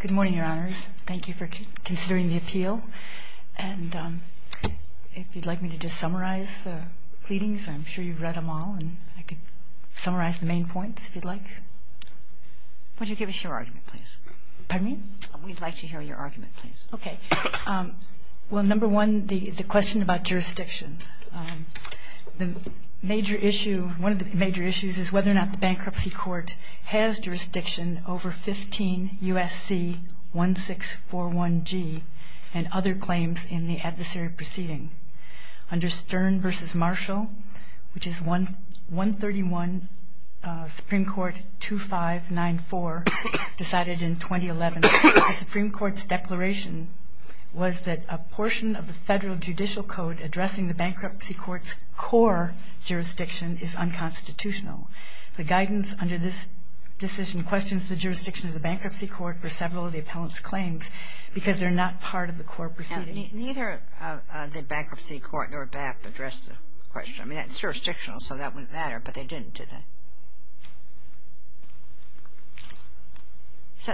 Good morning, Your Honors. Thank you for considering the appeal. And if you'd like me to just summarize the pleadings, I'm sure you've read them all, and I could summarize the main points, if you'd like. Would you give us your argument, please? Pardon me? We'd like to hear your argument, please. Okay. Well, number one, the question about jurisdiction. One of the major issues is whether or not the bankruptcy court has jurisdiction over 15 U.S.C. 1641G and other claims in the adversary proceeding. Under Stern v. Marshall, which is 131 Supreme Court 2594, decided in 2011, the Supreme Court's declaration was that a portion of the federal judicial code addressing the bankruptcy court's core jurisdiction is unconstitutional. The guidance under this decision questions the jurisdiction of the bankruptcy court for several of the appellant's claims because they're not part of the core proceeding. Neither the bankruptcy court nor BAP addressed the question. I mean, it's jurisdictional, so that wouldn't matter, but they didn't, did they?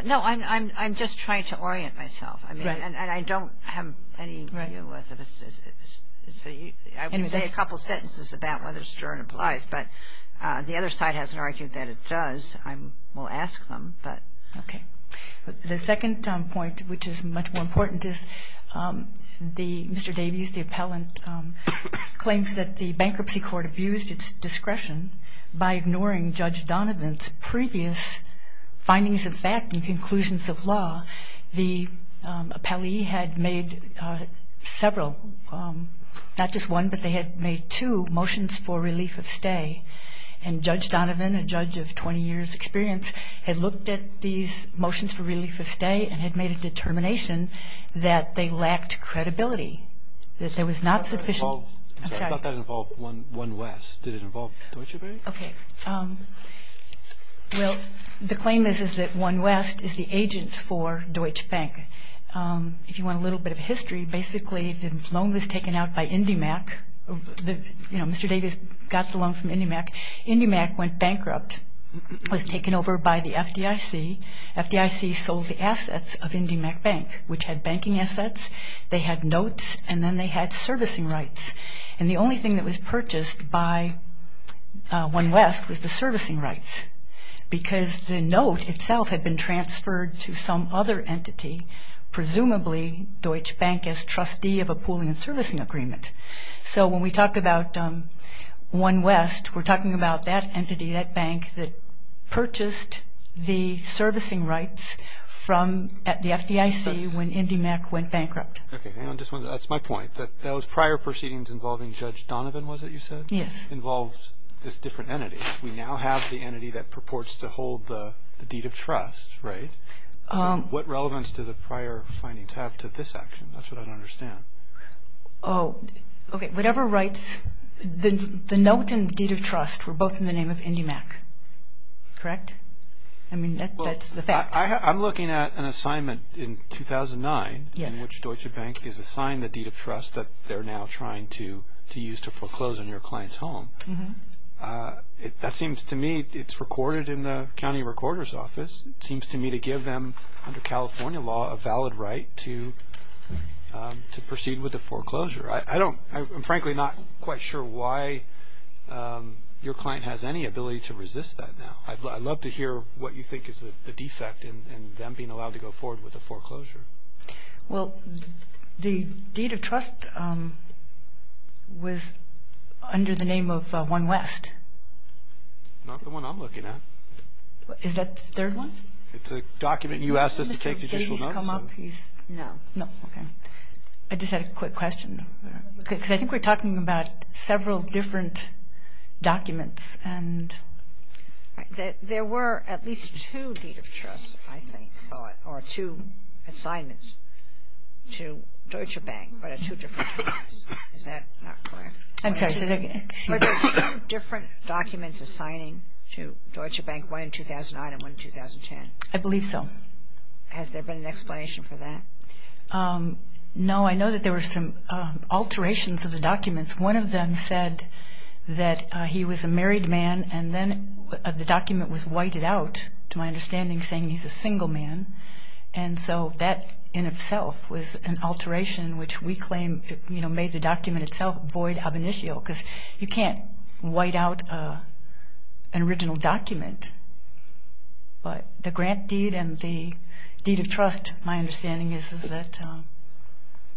No, I'm just trying to orient myself. Right. And I don't have any view. Right. I would say a couple sentences about whether Stern applies, but the other side hasn't argued that it does. I will ask them, but. Okay. The second point, which is much more important, is Mr. Davies, the appellant, claims that the bankruptcy court abused its discretion by ignoring Judge Donovan's previous findings of fact and conclusions of law. The appellee had made several, not just one, but they had made two motions for relief of stay. And Judge Donovan, a judge of 20 years' experience, had looked at these motions for relief of stay and had made a determination that they lacked credibility, that there was not sufficient. I thought that involved One West. Did it involve Deutsche Bank? Okay. Well, the claim is that One West is the agent for Deutsche Bank. If you want a little bit of history, basically the loan was taken out by Indymac. You know, Mr. Davies got the loan from Indymac. Indymac went bankrupt, was taken over by the FDIC. FDIC sold the assets of Indymac Bank, which had banking assets, they had notes, and then they had servicing rights. And the only thing that was purchased by One West was the servicing rights because the note itself had been transferred to some other entity, presumably Deutsche Bank as trustee of a pooling and servicing agreement. So when we talk about One West, we're talking about that entity, that bank that purchased the servicing rights from the FDIC when Indymac went bankrupt. Okay. That's my point, that those prior proceedings involving Judge Donovan, was it you said? Yes. Involved this different entity. We now have the entity that purports to hold the deed of trust, right? So what relevance do the prior findings have to this action? That's what I don't understand. Oh, okay. Whatever rights, the note and the deed of trust were both in the name of Indymac, correct? I mean, that's the fact. I'm looking at an assignment in 2009 in which Deutsche Bank is assigned the deed of trust that they're now trying to use to foreclose on your client's home. That seems to me it's recorded in the county recorder's office. It seems to me to give them, under California law, a valid right to proceed with the foreclosure. I'm frankly not quite sure why your client has any ability to resist that now. I'd love to hear what you think is the defect in them being allowed to go forward with the foreclosure. Well, the deed of trust was under the name of One West. Not the one I'm looking at. Is that the third one? It's a document you asked us to take judicial notes. Did he come up? No. No, okay. I just had a quick question. Because I think we're talking about several different documents. There were at least two deed of trusts, I think, or two assignments to Deutsche Bank, but at two different times. Is that not correct? I'm sorry. Are there two different documents assigning to Deutsche Bank, one in 2009 and one in 2010? I believe so. Has there been an explanation for that? No, I know that there were some alterations of the documents. One of them said that he was a married man, and then the document was whited out to my understanding saying he's a single man. And so that in itself was an alteration which we claim made the document itself void of initial because you can't white out an original document. But the grant deed and the deed of trust, my understanding is that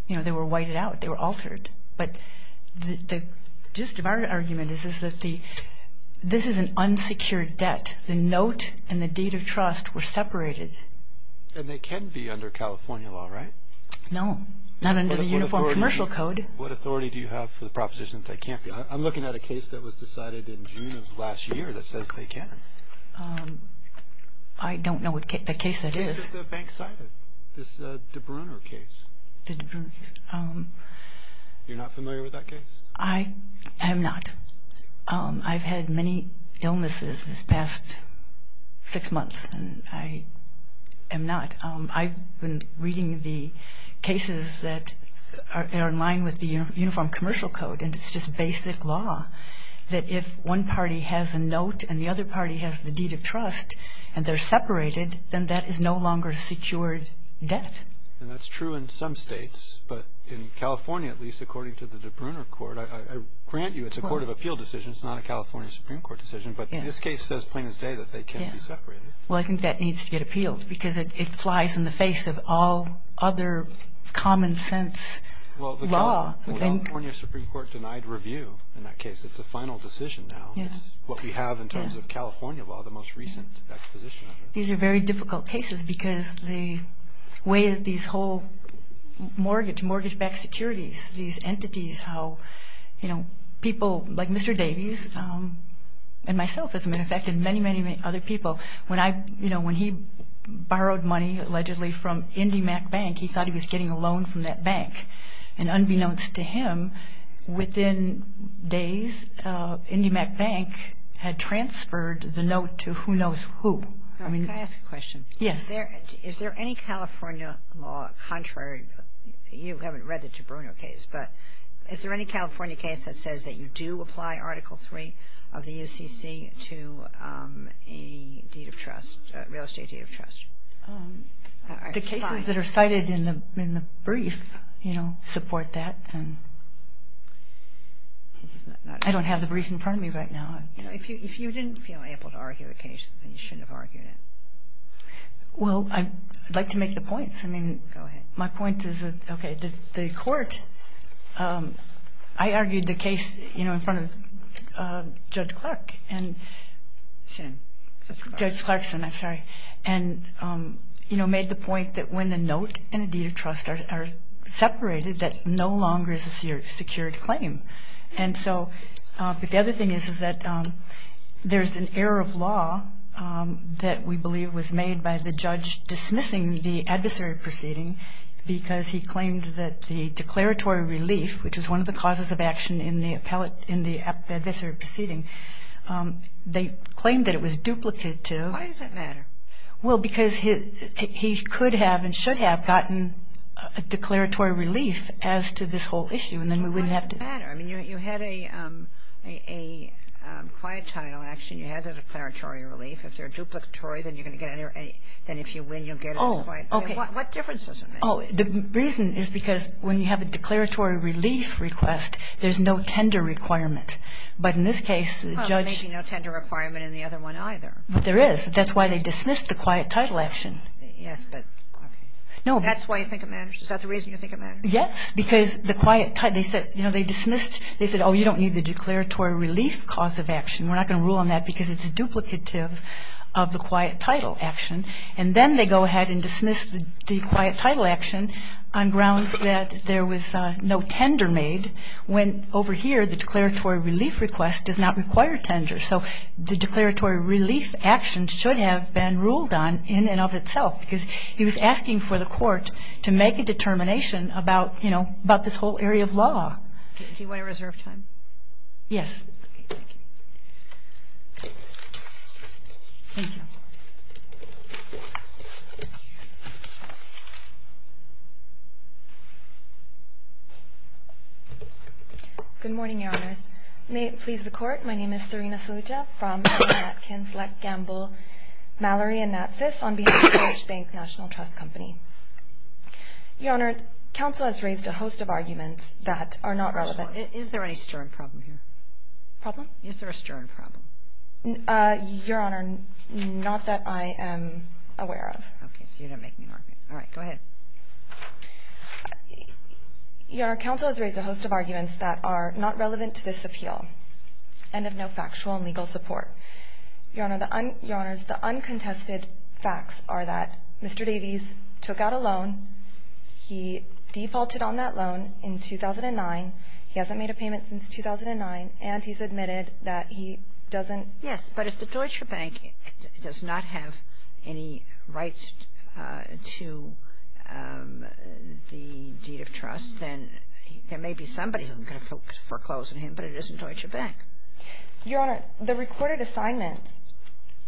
they were whited out. They were altered. But the gist of our argument is that this is an unsecured debt. The note and the deed of trust were separated. And they can be under California law, right? No, not under the Uniform Commercial Code. What authority do you have for the proposition that they can't be? I'm looking at a case that was decided in June of last year that says they can. I don't know what case that is. It's at the bank side, this DeBrunner case. You're not familiar with that case? I am not. I've had many illnesses this past six months, and I am not. I've been reading the cases that are in line with the Uniform Commercial Code, and it's just basic law that if one party has a note and the other party has the deed of trust and they're separated, then that is no longer secured debt. And that's true in some states. But in California, at least, according to the DeBrunner court, I grant you it's a court of appeal decision. It's not a California Supreme Court decision. But this case says plain as day that they can't be separated. Well, I think that needs to get appealed because it flies in the face of all other common sense law. The California Supreme Court denied review in that case. It's a final decision now. Yes. What we have in terms of California law, the most recent exposition of it. These are very difficult cases because the way that these whole mortgage-backed securities, these entities, how people like Mr. Davies and myself, as a matter of fact, and many, many other people, when he borrowed money, allegedly, from IndyMac Bank, he thought he was getting a loan from that bank. And unbeknownst to him, within days, IndyMac Bank had transferred the note to who knows who. Can I ask a question? Yes. Is there any California law contrary? You haven't read the DeBrunner case, but is there any California case that says that you do apply Article III of the UCC to a deed of trust, a real estate deed of trust? The cases that are cited in the brief support that. I don't have the brief in front of me right now. If you didn't feel able to argue a case, then you shouldn't have argued it. Well, I'd like to make the points. Go ahead. My point is that the court, I argued the case in front of Judge Clarkson. I'm sorry. And, you know, made the point that when a note and a deed of trust are separated, that no longer is a secured claim. And so the other thing is that there's an error of law that we believe was made by the judge dismissing the adversary proceeding because he claimed that the declaratory relief, which was one of the causes of action in the adversary proceeding, they claimed that it was duplicative. Why does that matter? Well, because he could have and should have gotten a declaratory relief as to this whole issue, and then we wouldn't have to do it. Well, why does it matter? I mean, you had a quiet title action. You had the declaratory relief. If they're duplicatory, then you're going to get any or any. Then if you win, you'll get a quiet title. Oh, okay. What difference does it make? Oh, the reason is because when you have a declaratory relief request, there's no tender requirement. But in this case, the judge… Well, maybe no tender requirement in the other one either. But there is. That's why they dismissed the quiet title action. Yes, but, okay. No. That's why you think it matters? Is that the reason you think it matters? Yes, because the quiet title, they said, you know, they dismissed, they said, oh, you don't need the declaratory relief cause of action. We're not going to rule on that because it's duplicative of the quiet title action. And then they go ahead and dismiss the quiet title action on grounds that there was no tender made when over here the declaratory relief request does not require tender. So the declaratory relief action should have been ruled on in and of itself because he was asking for the court to make a determination about, you know, about this whole area of law. Do you want to reserve time? Yes. Okay, thank you. Thank you. Good morning, Your Honors. May it please the Court. My name is Serena Saluja from Mattkins, Leck, Gamble, Mallory, and Natsis on behalf of the Bush Bank National Trust Company. Your Honor, counsel has raised a host of arguments that are not relevant. Is there any stern problem here? Problem? Is there a stern problem? Your Honor, not that I am aware of. Okay, so you're not making an argument. All right, go ahead. Your Honor, counsel has raised a host of arguments that are not relevant to this appeal. And of no factual and legal support. Your Honor, the uncontested facts are that Mr. Davies took out a loan. He defaulted on that loan in 2009. He hasn't made a payment since 2009. And he's admitted that he doesn't Yes, but if the Deutsche Bank does not have any rights to the deed of trust, then there may be somebody who can foreclose on him, but it isn't Deutsche Bank. Your Honor, the recorded assignments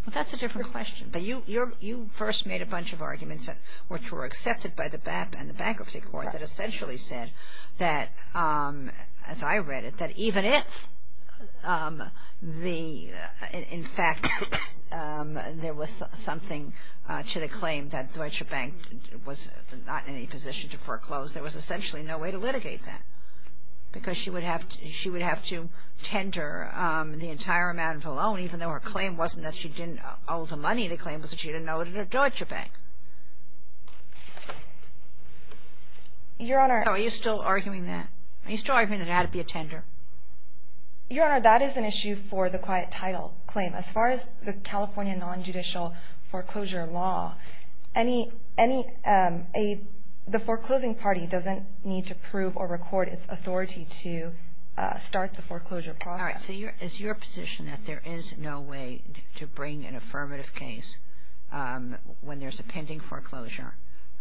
Well, that's a different question. But you first made a bunch of arguments which were accepted by the BAP and the Bankruptcy Court that essentially said that, as I read it, that even if the, in fact, there was something to the claim that Deutsche Bank was not in any position to foreclose, there was essentially no way to litigate that. Because she would have to tender the entire amount of the loan, even though her claim wasn't that she didn't owe the money. The claim was that she didn't owe it to Deutsche Bank. Your Honor Are you still arguing that? Are you still arguing that it had to be a tender? Your Honor, that is an issue for the quiet title claim. As far as the California nonjudicial foreclosure law, the foreclosing party doesn't need to prove or record its authority to start the foreclosure process. All right. So is your position that there is no way to bring an affirmative case when there's a pending foreclosure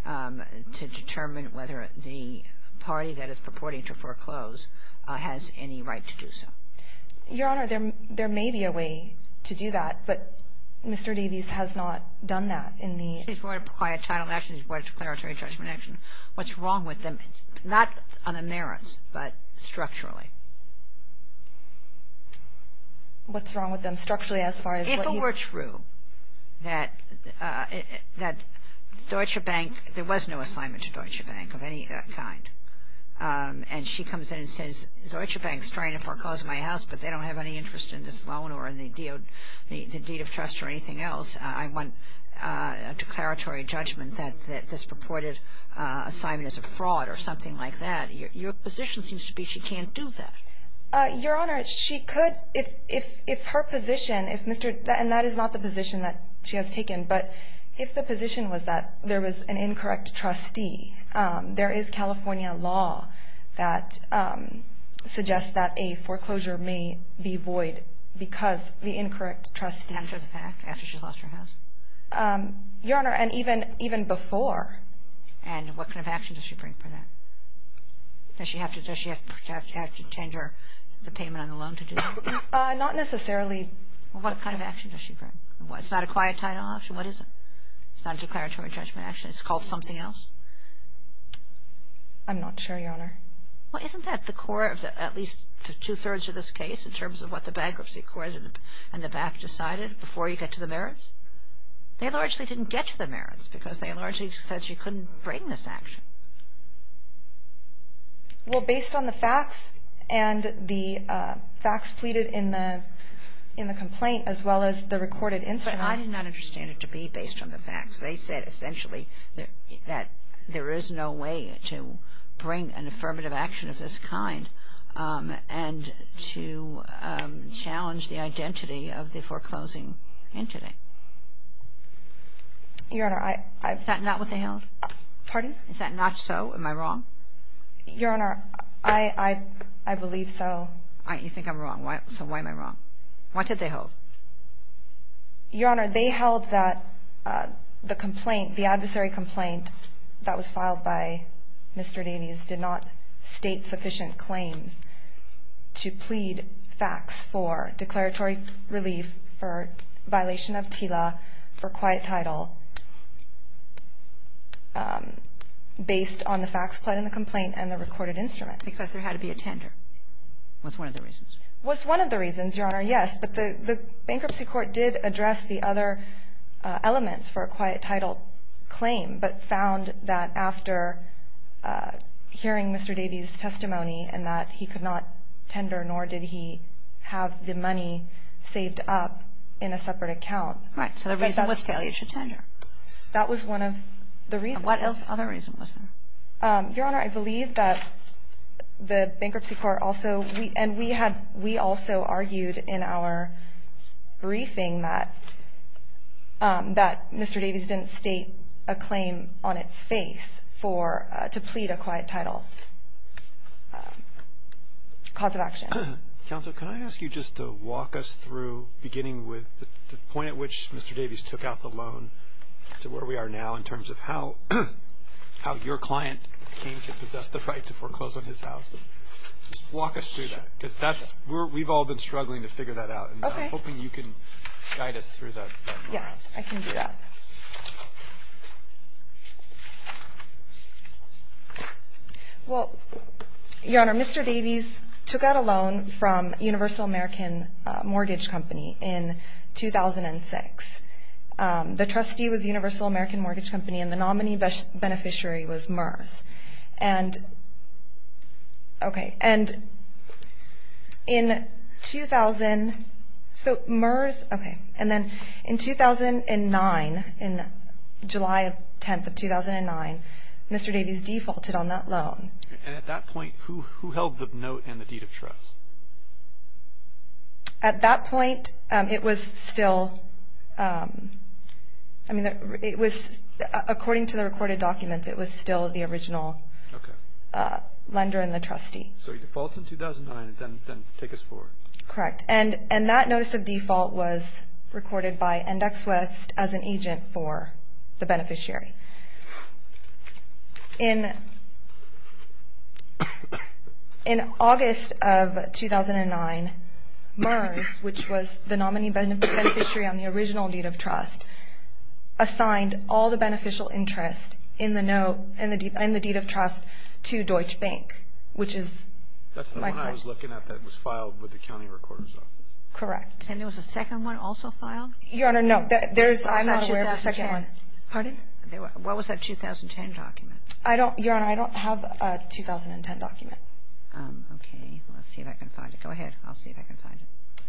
to determine whether the party that is purporting to foreclose has any right to do so? Your Honor, there may be a way to do that, but Mr. Davies has not done that in the She's brought a quiet title action. She's brought a declaratory judgment action. What's wrong with them, not on the merits, but structurally? What's wrong with them structurally as far as what you If it were true that Deutsche Bank, there was no assignment to Deutsche Bank of any kind, and she comes in and says, Deutsche Bank is trying to foreclose my house, but they don't have any interest in this loan or in the deed of trust or anything else. I want a declaratory judgment that this purported assignment is a fraud or something like that. Your position seems to be she can't do that. Your Honor, she could if her position, if Mr. And that is not the position that she has taken, but if the position was that there was an incorrect trustee, there is California law that suggests that a foreclosure may be void because the incorrect trustee After the fact, after she lost her house? Your Honor, and even before. And what kind of action does she bring for that? Does she have to tender the payment on the loan to do that? Not necessarily. What kind of action does she bring? It's not a quiet title action. What is it? It's not a declaratory judgment action. It's called something else. I'm not sure, Your Honor. Well, isn't that the core of at least two-thirds of this case in terms of what the bankruptcy court and the bank decided before you get to the merits? They largely didn't get to the merits because they largely said she couldn't bring this action. Well, based on the facts and the facts pleaded in the complaint as well as the recorded instrument I did not understand it to be based on the facts. They said essentially that there is no way to bring an affirmative action of this kind and to challenge the identity of the foreclosing entity. Your Honor, I Is that not what they held? Pardon? Is that not so? Am I wrong? Your Honor, I believe so. You think I'm wrong. So why am I wrong? What did they hold? Your Honor, they held that the complaint, the adversary complaint that was filed by Mr. Davies did not state sufficient claims to plead facts for declaratory relief for violation of TILA for quiet title based on the facts pled in the complaint and the recorded instrument. Because there had to be a tender was one of the reasons. Was one of the reasons, Your Honor, yes. But the bankruptcy court did address the other elements for a quiet title claim but found that after hearing Mr. Davies' testimony and that he could not tender nor did he have the money saved up in a separate account. Right. So the reason was failure to tender. That was one of the reasons. What other reason was there? Your Honor, I believe that the bankruptcy court also and we also argued in our briefing that Mr. Davies didn't state a claim on its face to plead a quiet title cause of action. Counsel, can I ask you just to walk us through beginning with the point at which Mr. Davies took out the loan to where we are now in terms of how your client came to possess the right to foreclose on his house? Just walk us through that. Because that's where we've all been struggling to figure that out. Okay. And I'm hoping you can guide us through that. Yes, I can do that. Well, Your Honor, Mr. Davies took out a loan from Universal American Mortgage Company in 2006. The trustee was Universal American Mortgage Company and the nominee beneficiary was MERS. And in 2009, in July 10th of 2009, Mr. Davies defaulted on that loan. And at that point, who held the note and the deed of trust? At that point, it was still, I mean, it was, according to the recorded documents, it was still the original lender and the trustee. So he defaults in 2009 and then takes us forward. Correct. And that notice of default was recorded by Index West as an agent for the beneficiary. In August of 2009, MERS, which was the nominee beneficiary on the original deed of trust, assigned all the beneficial interest in the note and the deed of trust to Deutsche Bank, which is my question. That's the one I was looking at that was filed with the county recorder's office. Correct. And there was a second one also filed? Your Honor, no. I'm not aware of the second one. Pardon? What was that 2010 document? Your Honor, I don't have a 2010 document. Okay. Let's see if I can find it. Go ahead. I'll see if I can find it.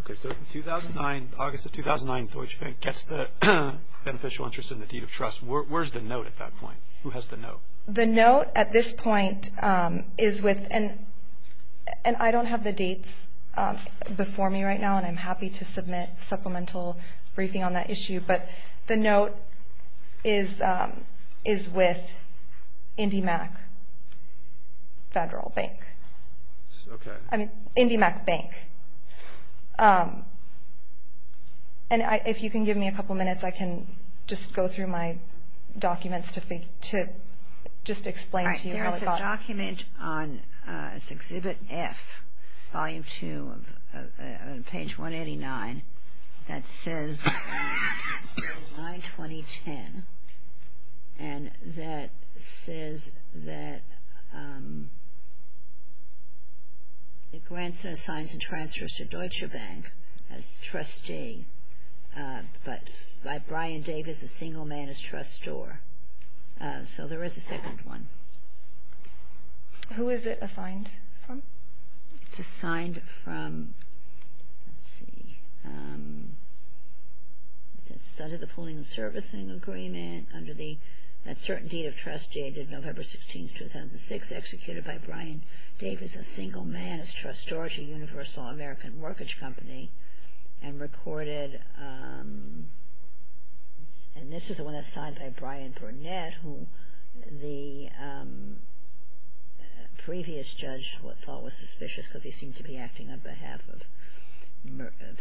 Okay. So in 2009, August of 2009, Deutsche Bank gets the beneficial interest in the deed of trust. Where's the note at that point? Who has the note? The note at this point is with, and I don't have the dates before me right now, and I'm happy to submit supplemental briefing on that issue. But the note is with IndyMac Federal Bank. Okay. I mean, IndyMac Bank. And if you can give me a couple minutes, I can just go through my documents to just explain to you. There's a document on Exhibit F, Volume 2, page 189, that says July 2010, and that says that the grandson assigns and transfers to Deutsche Bank as trustee, but by Brian Davis, a single man is trustor. So there is a second one. Who is it assigned from? It's assigned from, let's see, under the pooling and servicing agreement, under the certain deed of trust dated November 16, 2006, executed by Brian Davis, a single man is trustor to Universal American Mortgage Company, and recorded, and this is the one that's signed by Brian Burnett, who the previous judge thought was suspicious because he seemed to be acting on behalf of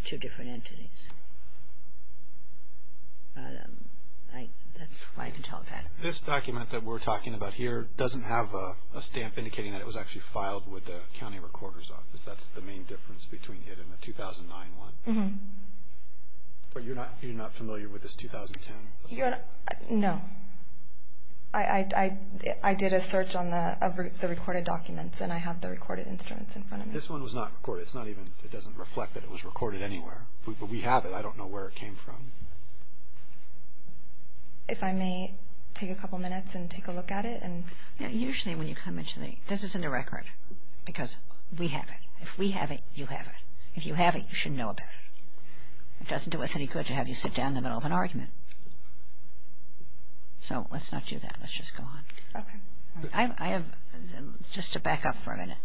two different entities. That's all I can talk about. This document that we're talking about here doesn't have a stamp indicating because that's the main difference between it and the 2009 one. But you're not familiar with this 2010? No. I did a search on the recorded documents, and I have the recorded instruments in front of me. This one was not recorded. It doesn't reflect that it was recorded anywhere, but we have it. I don't know where it came from. If I may take a couple minutes and take a look at it. Usually when you come into the, this is in the record because we have it. If we have it, you have it. If you have it, you should know about it. It doesn't do us any good to have you sit down in the middle of an argument. So let's not do that. Let's just go on. Okay. I have, just to back up for a minute,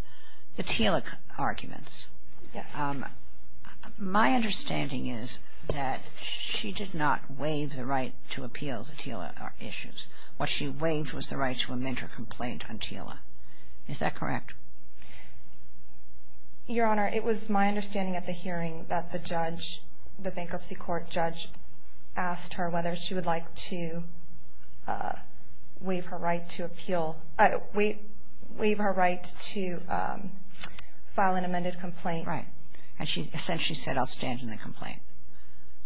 the Thiele arguments. Yes. My understanding is that she did not waive the right to appeal the Thiele issues. What she waived was the right to amend her complaint on Thiele. Is that correct? Your Honor, it was my understanding at the hearing that the judge, the bankruptcy court judge, asked her whether she would like to waive her right to appeal, waive her right to file an amended complaint. Right.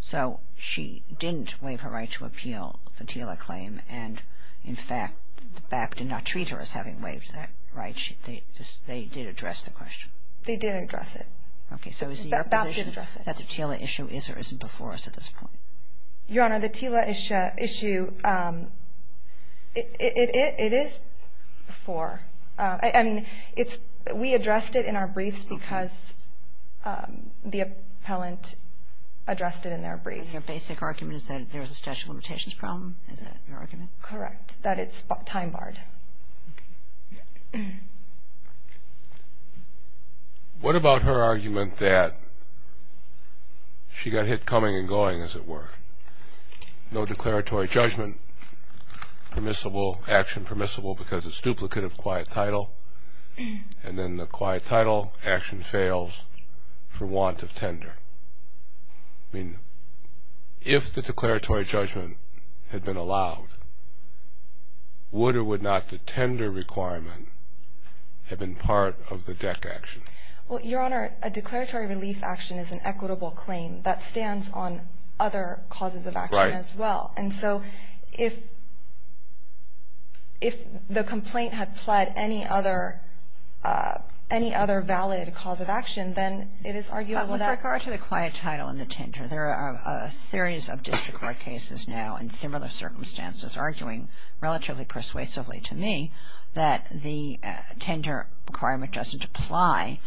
So she didn't waive her right to appeal the Thiele claim and, in fact, the back did not treat her as having waived that right. They did address the question. They did address it. Okay. So is it your position that the Thiele issue is or isn't before us at this point? Your Honor, the Thiele issue, it is before. I mean, we addressed it in our briefs because the appellant addressed it in their briefs. Your basic argument is that there is a statute of limitations problem? Is that your argument? Correct. That it's time barred. What about her argument that she got hit coming and going, as it were? No declaratory judgment permissible, action permissible because it's duplicate of quiet title, and then the quiet title action fails for want of tender. I mean, if the declaratory judgment had been allowed, would or would not the tender requirement have been part of the DEC action? Well, Your Honor, a declaratory relief action is an equitable claim. That stands on other causes of action as well. Right. And so if the complaint had pled any other valid cause of action, then it is arguable that. With regard to the quiet title and the tender, there are a series of district court cases now in similar circumstances arguing relatively persuasively to me that the tender requirement doesn't apply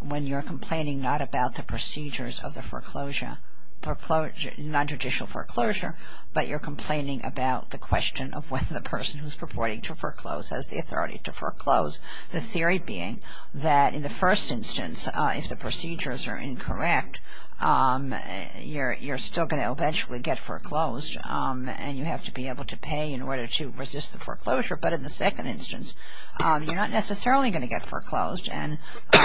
when you're complaining not about the procedures of the foreclosure, nonjudicial foreclosure, but you're complaining about the question of whether the person who's purporting to foreclose has the authority to foreclose. The theory being that in the first instance, if the procedures are incorrect, you're still going to eventually get foreclosed and you have to be able to pay in order to resist the foreclosure. But in the second instance, you're not necessarily going to get foreclosed and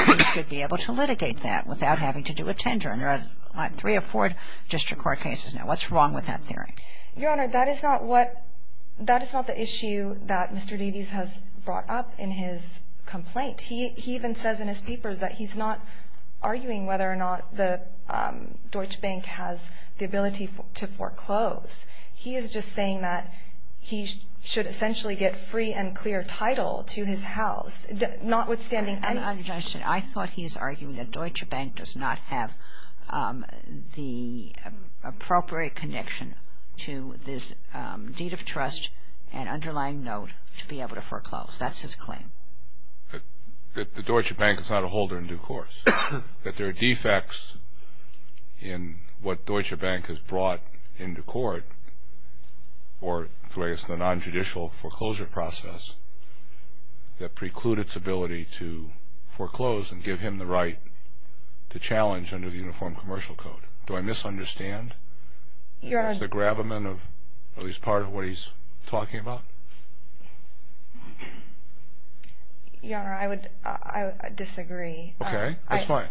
you should be able to litigate that without having to do a tender. And there are three or four district court cases now. What's wrong with that theory? Your Honor, that is not what the issue that Mr. Davies has brought up in his complaint. He even says in his papers that he's not arguing whether or not the Deutsche Bank has the ability to foreclose. He is just saying that he should essentially get free and clear title to his house, notwithstanding any I thought he was arguing that Deutsche Bank does not have the appropriate connection to this deed of trust and underlying note to be able to foreclose. That's his claim. The Deutsche Bank is not a holder in due course. That there are defects in what Deutsche Bank has brought into court or through the non-judicial foreclosure process that preclude its ability to foreclose and give him the right to challenge under the Uniform Commercial Code. Do I misunderstand? Is that the gravamen of at least part of what he's talking about? Your Honor, I would disagree. Okay, that's fine.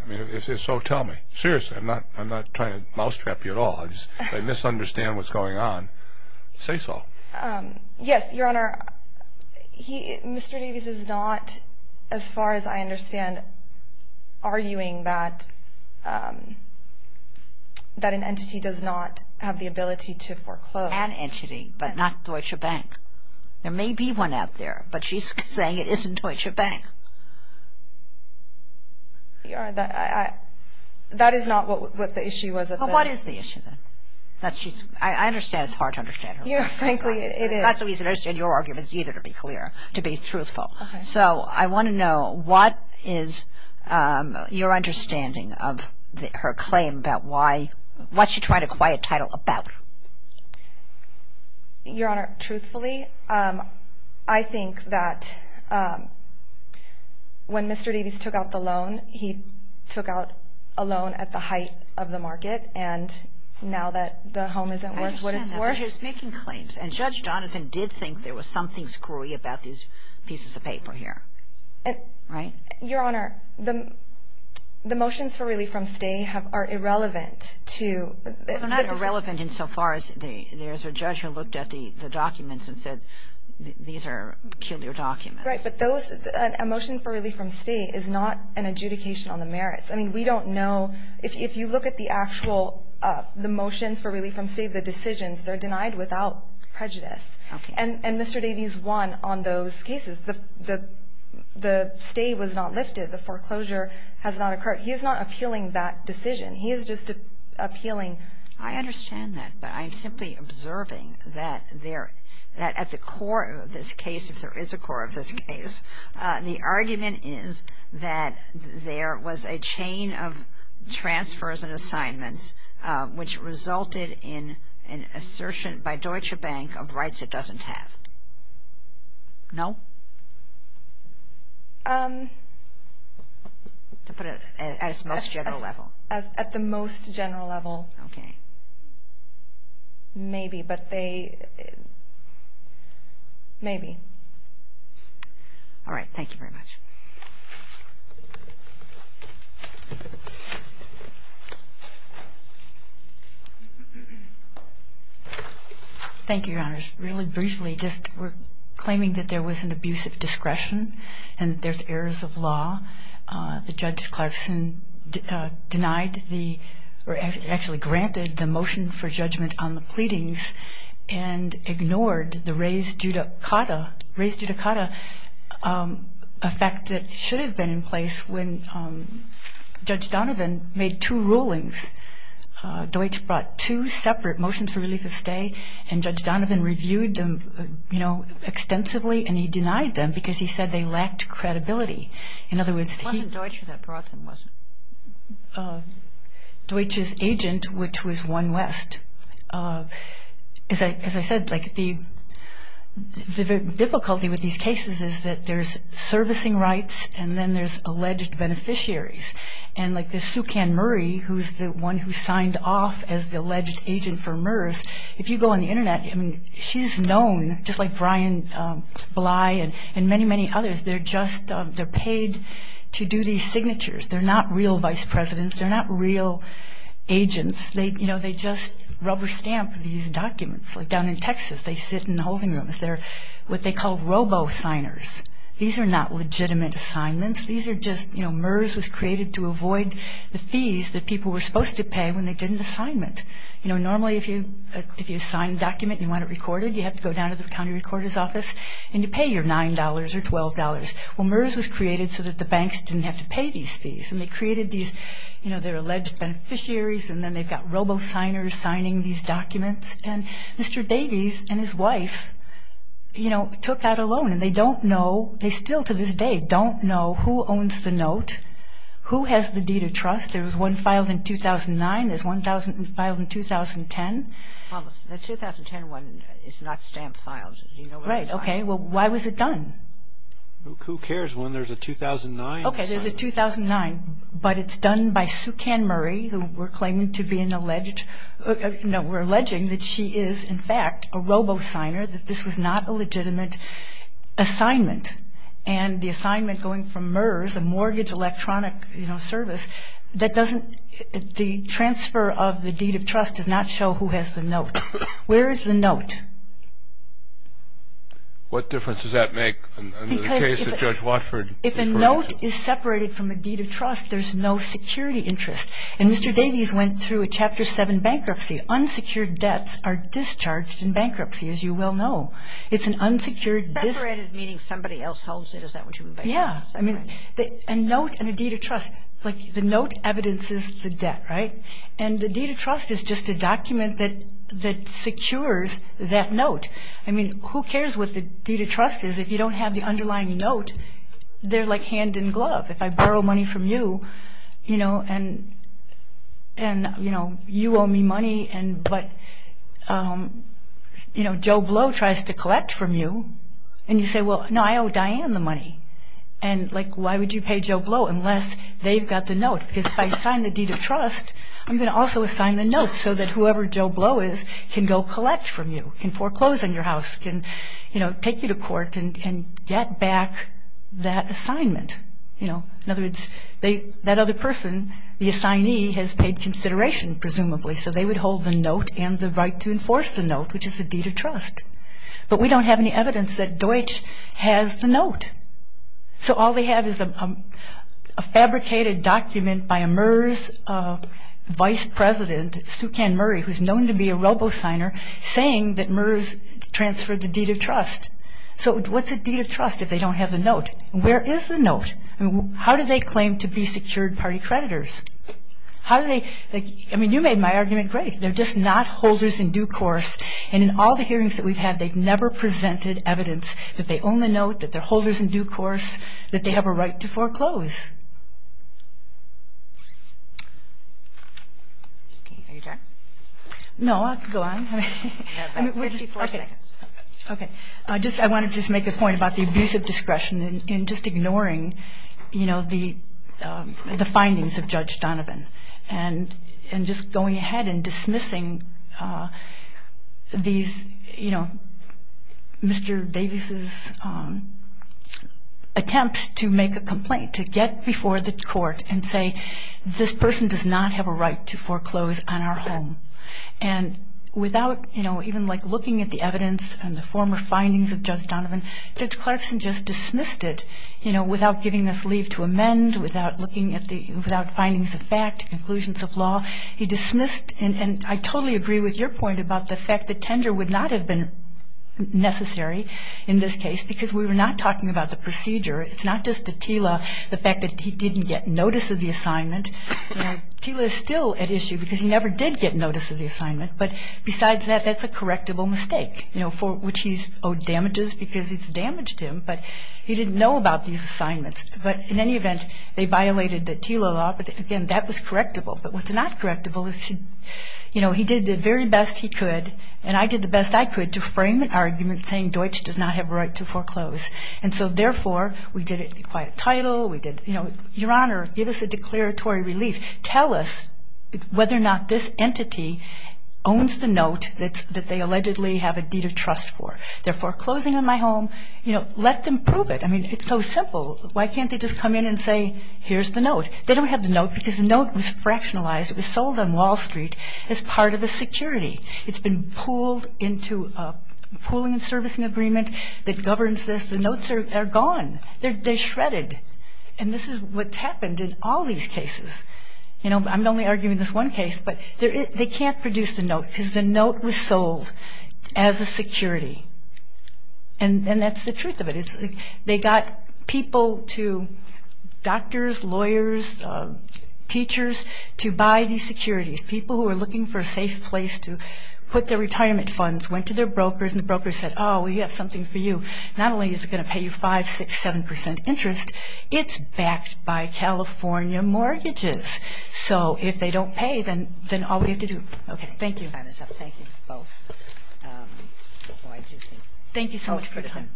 So tell me. Seriously, I'm not trying to mousetrap you at all. If I misunderstand what's going on, say so. Yes, Your Honor. Mr. Davies is not, as far as I understand, arguing that an entity does not have the ability to foreclose. An entity, but not Deutsche Bank. There may be one out there, but she's saying it isn't Deutsche Bank. Your Honor, that is not what the issue was. Well, what is the issue then? I understand it's hard to understand her. Yeah, frankly, it is. That's the reason I understand your arguments either, to be clear, to be truthful. Okay. So I want to know what is your understanding of her claim about why, what's she trying to acquire a title about? Your Honor, truthfully, I think that when Mr. Davies took out the loan, he took out a loan at the height of the market. And now that the home isn't worth what it's worth. I understand that. But he's making claims. And Judge Donovan did think there was something screwy about these pieces of paper here. Right? Your Honor, the motions for relief from stay are irrelevant to the decision. They're not irrelevant insofar as there's a judge who looked at the documents and said these are peculiar documents. Right, but a motion for relief from stay is not an adjudication on the merits. I mean, we don't know. If you look at the actual motions for relief from stay, the decisions, they're denied without prejudice. And Mr. Davies won on those cases. The stay was not lifted. The foreclosure has not occurred. He is not appealing that decision. He is just appealing. I understand that. But I'm simply observing that at the core of this case, if there is a core of this case, the argument is that there was a chain of transfers and assignments, which resulted in an assertion by Deutsche Bank of rights it doesn't have. No? To put it at its most general level. At the most general level. Okay. Maybe, but they – maybe. All right. Thank you very much. Thank you, Your Honor. Just really briefly, just we're claiming that there was an abuse of discretion and there's errors of law. The Judge Clarkson denied the – or actually granted the motion for judgment on the pleadings and ignored the res judicata, res judicata effect that should have been in place when Judge Donovan made two rulings. Deutsche brought two separate motions for relief of stay and Judge Donovan reviewed them, you know, extensively and he denied them because he said they lacked credibility. It wasn't Deutsche that brought them, was it? Deutsche's agent, which was One West. As I said, like the difficulty with these cases is that there's servicing rights and then there's alleged beneficiaries. And like this Sue Can Murray, who's the one who signed off as the alleged agent for MERS, if you go on the Internet, I mean, she's known, just like Brian Bly and many, many others, they're just – they're paid to do these signatures. They're not real vice presidents. They're not real agents. They, you know, they just rubber stamp these documents. Like down in Texas, they sit in the holding rooms. They're what they call robo-signers. These are not legitimate assignments. These are just, you know, MERS was created to avoid the fees that people were supposed to pay when they did an assignment. You know, normally if you sign a document and you want it recorded, you have to go down to the county recorder's office and you pay your $9 or $12. Well, MERS was created so that the banks didn't have to pay these fees. And they created these, you know, they're alleged beneficiaries and then they've got robo-signers signing these documents. And Mr. Davies and his wife, you know, took that alone. And they don't know – they still to this day don't know who owns the note, who has the deed of trust. There was one filed in 2009. There's one filed in 2010. The 2010 one is not stamp filed. Right. Okay. Well, why was it done? Who cares when there's a 2009 assignment? Okay, there's a 2009. But it's done by Sue Canmurray, who we're claiming to be an alleged – no, we're alleging that she is in fact a robo-signer, that this was not a legitimate assignment. And the assignment going from MERS, a mortgage electronic, you know, service, that doesn't – the transfer of the deed of trust does not show who has the note. Where is the note? What difference does that make in the case of Judge Watford? Because if a note is separated from a deed of trust, there's no security interest. And Mr. Davies went through a Chapter 7 bankruptcy. Unsecured debts are discharged in bankruptcy, as you well know. It's an unsecured – Separated, meaning somebody else holds it. Is that what you mean by that? Yeah. I mean, a note and a deed of trust, like the note evidences the debt, right? And the deed of trust is just a document that secures that note. I mean, who cares what the deed of trust is? If you don't have the underlying note, they're like hand in glove. If I borrow money from you, you know, and, you know, you owe me money, but, you know, Joe Blow tries to collect from you. And you say, well, no, I owe Diane the money. And, like, why would you pay Joe Blow unless they've got the note? Because if I sign the deed of trust, I'm going to also assign the note so that whoever Joe Blow is can go collect from you, can foreclose on your house, can, you know, take you to court and get back that assignment. You know, in other words, that other person, the assignee, has paid consideration presumably, so they would hold the note and the right to enforce the note, which is the deed of trust. But we don't have any evidence that Deutsch has the note. So all they have is a fabricated document by a MERS vice president, Sue Ken Murray, who's known to be a robo-signer, saying that MERS transferred the deed of trust. So what's a deed of trust if they don't have the note? Where is the note? How do they claim to be secured party creditors? How do they – I mean, you made my argument great. They're just not holders in due course. And in all the hearings that we've had, they've never presented evidence that they own the note, that they're holders in due course, that they have a right to foreclose. Are you done? No, I can go on. You have 54 seconds. Okay. I want to just make a point about the abuse of discretion in just ignoring, you know, the findings of Judge Donovan and just going ahead and dismissing these, you know, Mr. Davis's attempt to make a complaint, to get before the court and say, this person does not have a right to foreclose on our home. And without, you know, even like looking at the evidence and the former findings of Judge Donovan, Judge Clarkson just dismissed it, you know, without giving us leave to amend, without looking at the – without findings of fact, conclusions of law. And I totally agree with your point about the fact that tender would not have been necessary in this case because we were not talking about the procedure. It's not just the TILA, the fact that he didn't get notice of the assignment. You know, TILA is still at issue because he never did get notice of the assignment. But besides that, that's a correctable mistake, you know, for which he's owed damages because it's damaged him. But he didn't know about these assignments. But in any event, they violated the TILA law, but again, that was correctable. But what's not correctable is, you know, he did the very best he could, and I did the best I could to frame an argument saying Deutsch does not have a right to foreclose. And so therefore, we did it in quiet title. We did, you know, Your Honor, give us a declaratory relief. Tell us whether or not this entity owns the note that they allegedly have a deed of trust for. They're foreclosing on my home. You know, let them prove it. I mean, it's so simple. Why can't they just come in and say, here's the note? They don't have the note because the note was fractionalized. It was sold on Wall Street as part of a security. It's been pooled into a pooling and servicing agreement that governs this. The notes are gone. They're shredded. And this is what's happened in all these cases. You know, I'm only arguing this one case, but they can't produce the note because the note was sold as a security. And that's the truth of it. They got people to, doctors, lawyers, teachers, to buy these securities, people who were looking for a safe place to put their retirement funds, went to their brokers, and the brokers said, oh, we have something for you. Not only is it going to pay you 5%, 6%, 7% interest, it's backed by California mortgages. So if they don't pay, then all we have to do. Okay, thank you. Thank you both. Thank you so much for your time.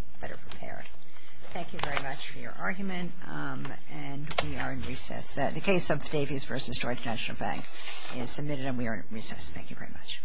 Thank you very much for your argument. And we are in recess. The case of Davies v. Georgia National Bank is submitted and we are in recess. Thank you very much.